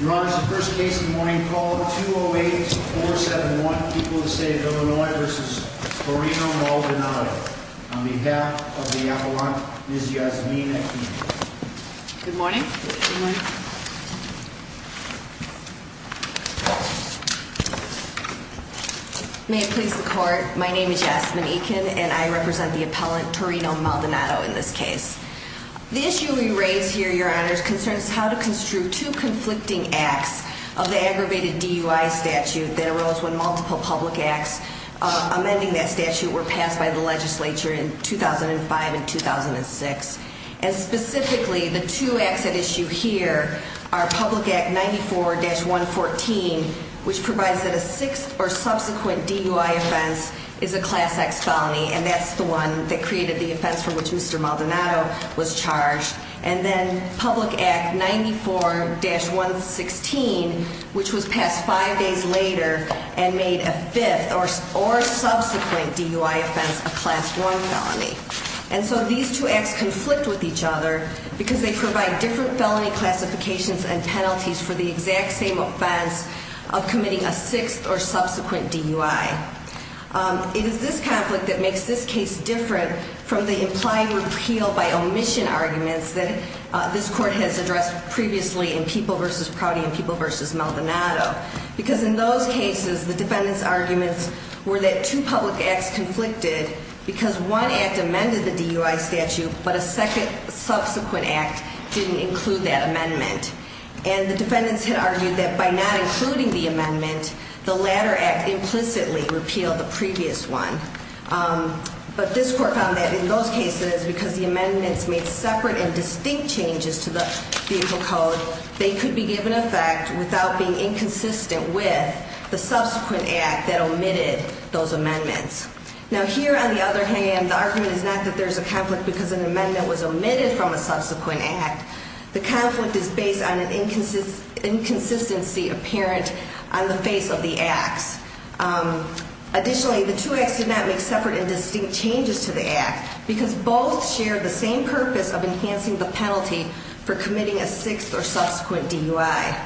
Your Honor, this is the first case of the morning. Call of 208-471. People of the State of Illinois v. Torino Maldonado. On behalf of the appellant, Ms. Yasmina Eakin. Good morning. May it please the Court, my name is Yasmin Eakin and I represent the appellant Torino Maldonado in this case. The issue we raise here, Your Honor, concerns how to construe two conflicting acts of the aggravated DUI statute that arose when multiple public acts amending that statute were passed by the legislature in 2005 and 2006. And specifically, the two acts at issue here are Public Act 94-114, which provides that a sixth or subsequent DUI offense is a Class X felony, and that's the one that created the offense from which Mr. Maldonado was charged. And then Public Act 94-116, which was passed five days later and made a fifth or subsequent DUI offense a Class I felony. And so these two acts conflict with each other because they provide different felony classifications and penalties for the exact same offense of committing a sixth or subsequent DUI. It is this conflict that makes this case different from the implying repeal by omission arguments that this Court has addressed previously in People v. Proudy and People v. Maldonado. Because in those cases, the defendant's arguments were that two public acts conflicted because one act amended the DUI statute, but a second subsequent act didn't include that amendment. And the defendants had argued that by not including the amendment, the latter act implicitly repealed the previous one. But this Court found that in those cases, because the amendments made separate and distinct changes to the vehicle code, they could be given effect without being inconsistent with the subsequent act that omitted those amendments. Now here, on the other hand, the argument is not that there's a conflict because an amendment was omitted from a subsequent act. The conflict is based on an inconsistency apparent on the face of the acts. Additionally, the two acts did not make separate and distinct changes to the act because both shared the same purpose of enhancing the penalty for committing a sixth or subsequent DUI.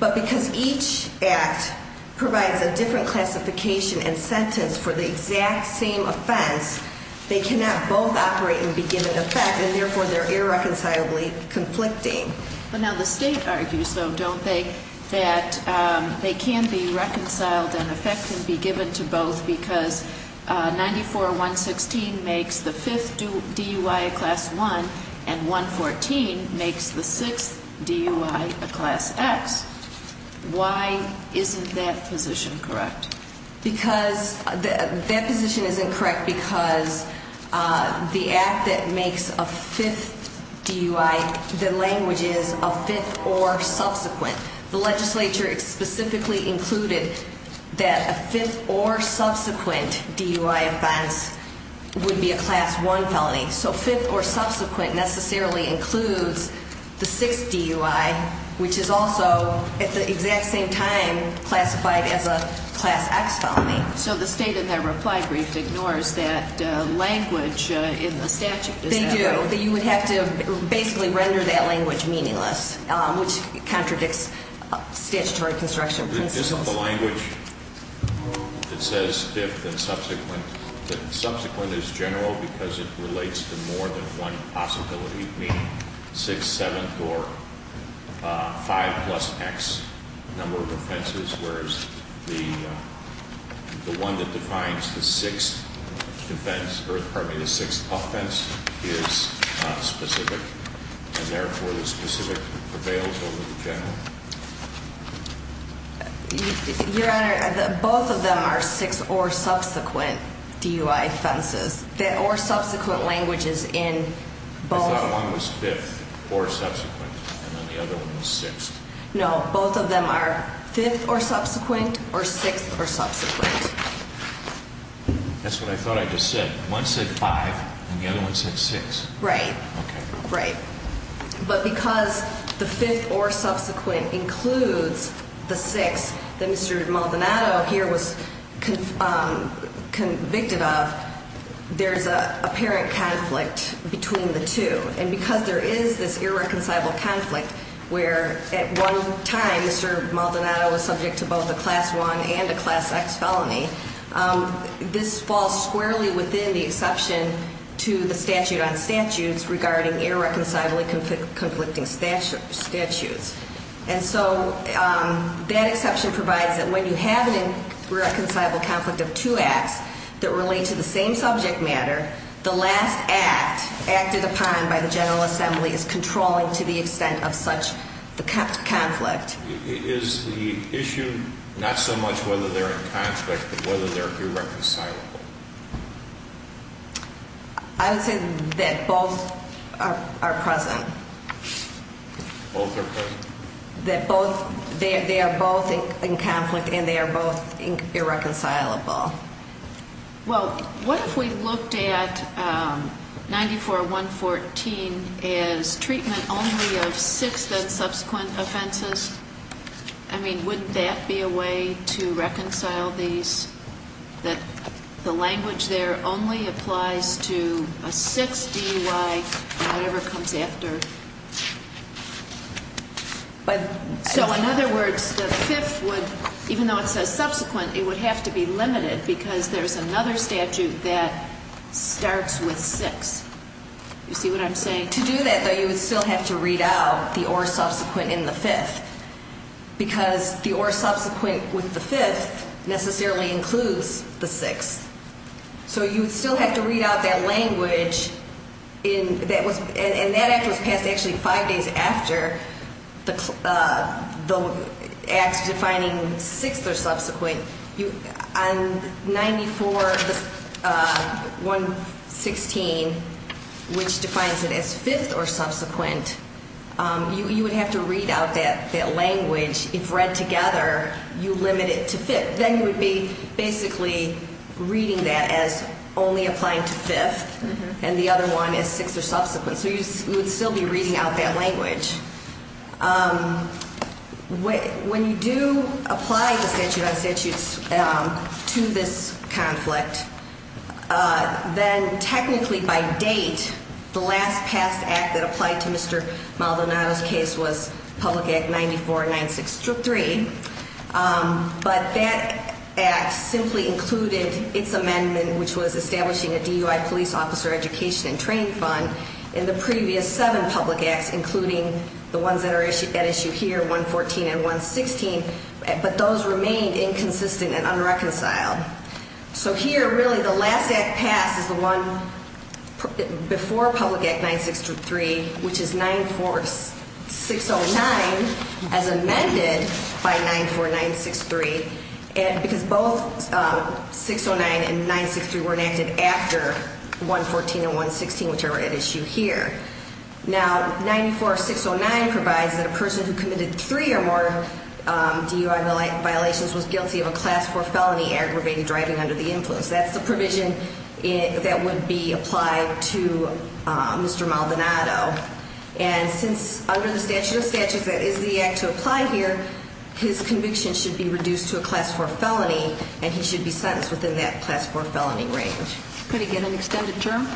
But because each act provides a different classification and sentence for the exact same offense, they cannot both operate and be given effect, and therefore they're irreconcilably conflicting. But now the State argues, though, don't they, that they can be reconciled and effect can be given to both because 94-116 makes the fifth DUI a Class I and 114 makes the sixth DUI a Class X. Why isn't that position correct? Because that position isn't correct because the act that makes a fifth DUI, the language is a fifth or subsequent. The legislature specifically included that a fifth or subsequent DUI offense would be a Class I felony. So fifth or subsequent necessarily includes the sixth DUI, which is also at the exact same time classified as a Class X felony. So the State in their reply brief ignores that language in the statute. They do. You would have to basically render that language meaningless, which contradicts statutory construction principles. Isn't the language that says fifth and subsequent, that subsequent is general because it relates to more than one possibility, meaning 6th, 7th, or 5 plus X number of offenses, whereas the one that defines the sixth offense is specific. And therefore, the specific prevails over the general. Your Honor, both of them are sixth or subsequent DUI offenses, or subsequent languages in both. I thought one was fifth or subsequent and then the other one was sixth. No, both of them are fifth or subsequent or sixth or subsequent. That's what I thought I just said. One said five and the other one said six. Right. But because the fifth or subsequent includes the sixth that Mr. Maldonado here was convicted of, there's an apparent conflict between the two. And because there is this irreconcilable conflict where at one time Mr. Maldonado was subject to both a Class I and a Class X felony, this falls squarely within the exception to the statute on statutes regarding irreconcilably conflicting statutes. And so that exception provides that when you have an irreconcilable conflict of two acts that relate to the same subject matter, the last act acted upon by the General Assembly is controlling to the extent of such conflict. Is the issue not so much whether they're in conflict but whether they're irreconcilable? I would say that both are present. Both are present. That both, they are both in conflict and they are both irreconcilable. Well, what if we looked at 94-114 as treatment only of sixth and subsequent offenses? I mean, wouldn't that be a way to reconcile these? That the language there only applies to a sixth DUI and whatever comes after? So in other words, the fifth would, even though it says subsequent, it would have to be limited because there's another statute that starts with sixth. You see what I'm saying? To do that, though, you would still have to read out the or subsequent in the fifth because the or subsequent with the fifth necessarily includes the sixth. So you would still have to read out that language and that act was passed actually five days after the act defining sixth or subsequent. On 94-116, which defines it as fifth or subsequent, you would have to read out that language. If read together, you limit it to fifth. Then you would be basically reading that as only applying to fifth and the other one is sixth or subsequent. So you would still be reading out that language. When you do apply the statute on statutes to this conflict, then technically by date, the last passed act that applied to Mr. Maldonado's case was Public Act 94-963. But that act simply included its amendment, which was establishing a DUI police officer education and training fund in the previous seven public acts, including the ones that are at issue here, 114 and 116. But those remained inconsistent and unreconciled. So here really the last act passed is the one before Public Act 963, which is 94-609 as amended by 94-963 because both 609 and 963 were enacted after 114 and 116, which are at issue here. Now 94-609 provides that a person who committed three or more DUI violations was guilty of a class four felony aggravated driving under the influence. That's the provision that would be applied to Mr. Maldonado. And since under the statute of statutes that is the act to apply here, his conviction should be reduced to a class four felony and he should be sentenced within that class four felony range. Could he get an extended term?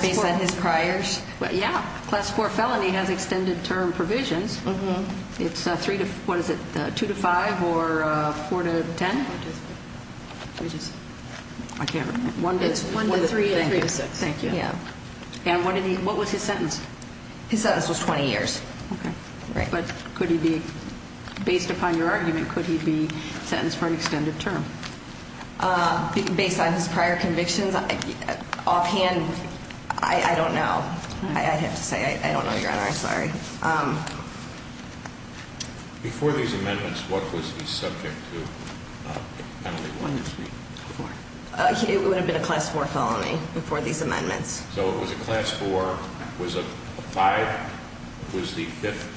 Based on his priors? Yeah. Class four felony has extended term provisions. It's three to, what is it, two to five or four to ten? I can't remember. It's one to three and three to six. Thank you. And what was his sentence? His sentence was 20 years. Okay. But could he be, based upon your argument, could he be sentenced for an extended term? Based on his prior convictions? Offhand, I don't know. I'd have to say I don't know, Your Honor. I'm sorry. Before these amendments, what was he subject to? It would have been a class four felony before these amendments. So it was a class four, was a five, was the fifth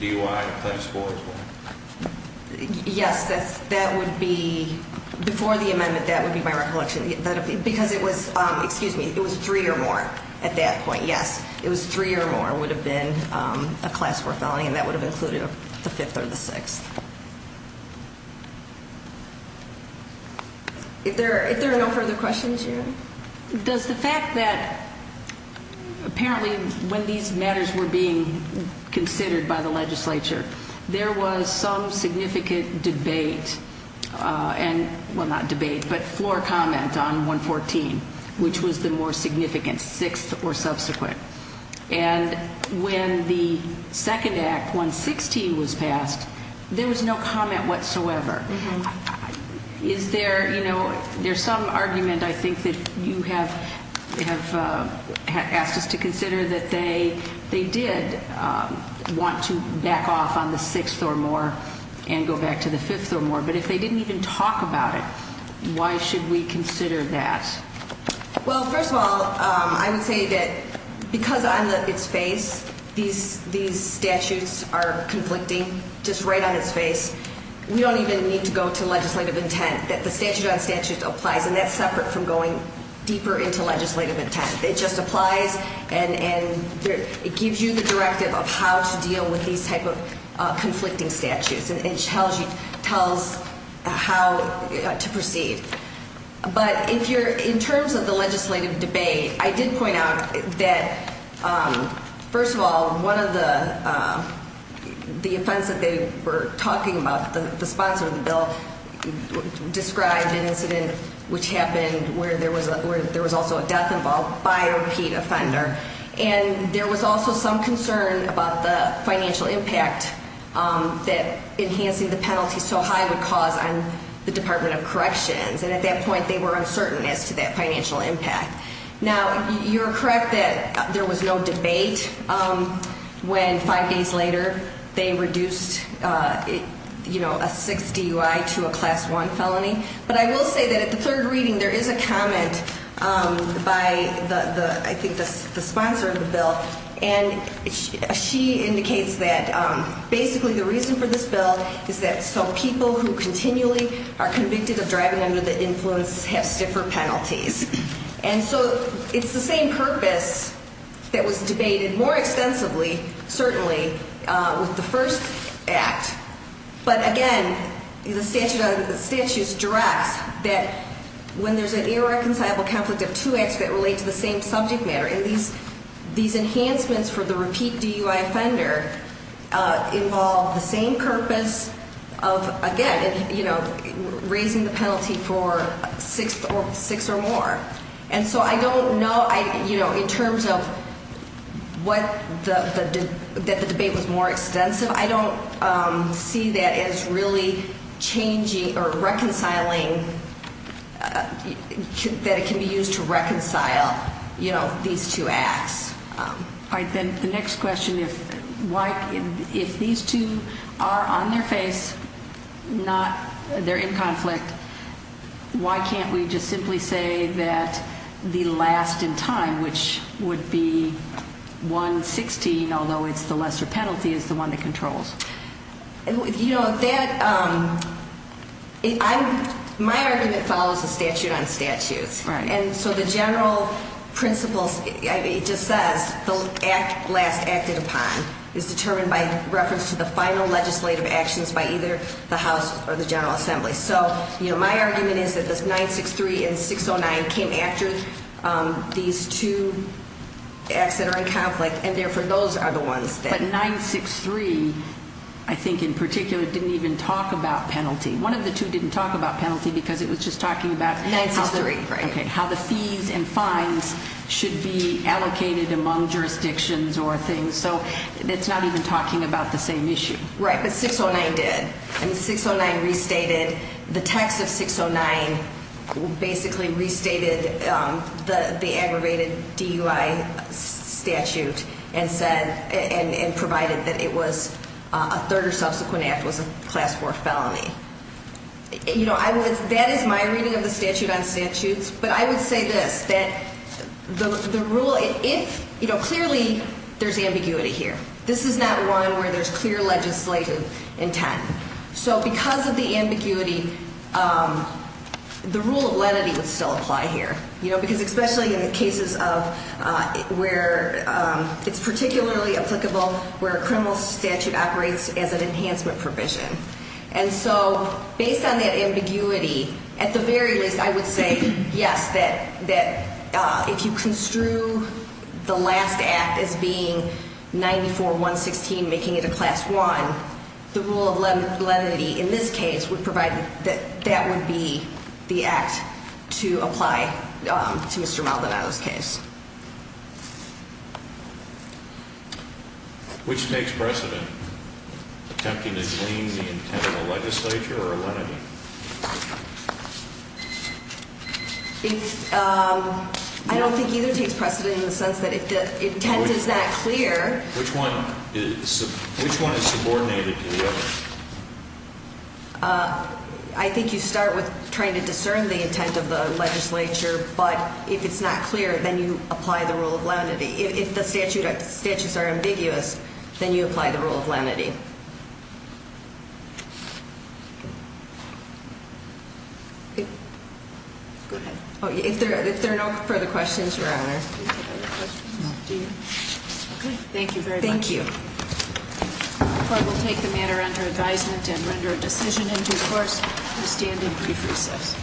DUI a class four as well? Yes, that would be, before the amendment, that would be my recollection. Because it was, excuse me, it was three or more at that point, yes. It was three or more would have been a class four felony and that would have included the fifth or the sixth. Does the fact that apparently when these matters were being considered by the legislature, there was some significant debate and, well, not debate, but floor comment on 114, which was the more significant sixth or subsequent. And when the second act, 116, was passed, there was no comment whatsoever. Is there, you know, there's some argument I think that you have asked us to consider that they did want to back off on the sixth or more and go back to the fifth or more. But if they didn't even talk about it, why should we consider that? Well, first of all, I would say that because on its face these statutes are conflicting, just right on its face, we don't even need to go to legislative intent. The statute on statute applies and that's separate from going deeper into legislative intent. It just applies and it gives you the directive of how to deal with these type of conflicting statutes. It tells you how to proceed. But if you're, in terms of the legislative debate, I did point out that, first of all, one of the offense that they were talking about, the sponsor of the bill, described an incident which happened where there was also a death involved by a repeat offender. And there was also some concern about the financial impact that enhancing the penalty so high would cause on the Department of Corrections. And at that point they were uncertain as to that financial impact. Now, you're correct that there was no debate when five days later they reduced a 6 DUI to a Class I felony. But I will say that at the third reading there is a comment by, I think, the sponsor of the bill. And she indicates that basically the reason for this bill is so people who continually are convicted of driving under the influence have stiffer penalties. And so it's the same purpose that was debated more extensively, certainly, with the first act. But, again, the statute directs that when there's an irreconcilable conflict of two acts that relate to the same subject matter, these enhancements for the repeat DUI offender involve the same purpose of, again, raising the penalty for six or more. And so I don't know, in terms of that the debate was more extensive, I don't see that as really changing or reconciling, that it can be used to reconcile these two acts. All right. Then the next question, if these two are on their face, they're in conflict, why can't we just simply say that the last in time, which would be 1-16, although it's the lesser penalty, is the one that controls? You know, my argument follows the statute on statutes. Right. And so the general principles, it just says the last acted upon is determined by reference to the final legislative actions by either the House or the General Assembly. So, you know, my argument is that this 963 and 609 came after these two acts that are in conflict, and therefore those are the ones that- But 963, I think in particular, didn't even talk about penalty. One of the two didn't talk about penalty because it was just talking about- 963, right. Okay, how the fees and fines should be allocated among jurisdictions or things. So it's not even talking about the same issue. Right, but 609 did. And 609 restated-the text of 609 basically restated the aggravated DUI statute and said-and provided that it was-a third or subsequent act was a class 4 felony. You know, that is my reading of the statute on statutes. But I would say this, that the rule-if-you know, clearly there's ambiguity here. This is not one where there's clear legislative intent. So because of the ambiguity, the rule of lenity would still apply here, you know, because especially in the cases of where it's particularly applicable where a criminal statute operates as an enhancement provision. And so based on that ambiguity, at the very least I would say yes, that if you construe the last act as being 94-116 making it a class 1, the rule of lenity in this case would provide that that would be the act to apply to Mr. Maldonado's case. Which takes precedent? Attempting to glean the intent of the legislature or a lenity? I don't think either takes precedent in the sense that if the intent is not clear- Which one? Which one is subordinated to the other? I think you start with trying to discern the intent of the legislature, but if it's not clear, then you apply the rule of lenity. If the statutes are ambiguous, then you apply the rule of lenity. Go ahead. If there are no further questions, Your Honor. Thank you very much. Thank you. The court will take the matter under advisement and render a decision in due course. We stand in brief recess.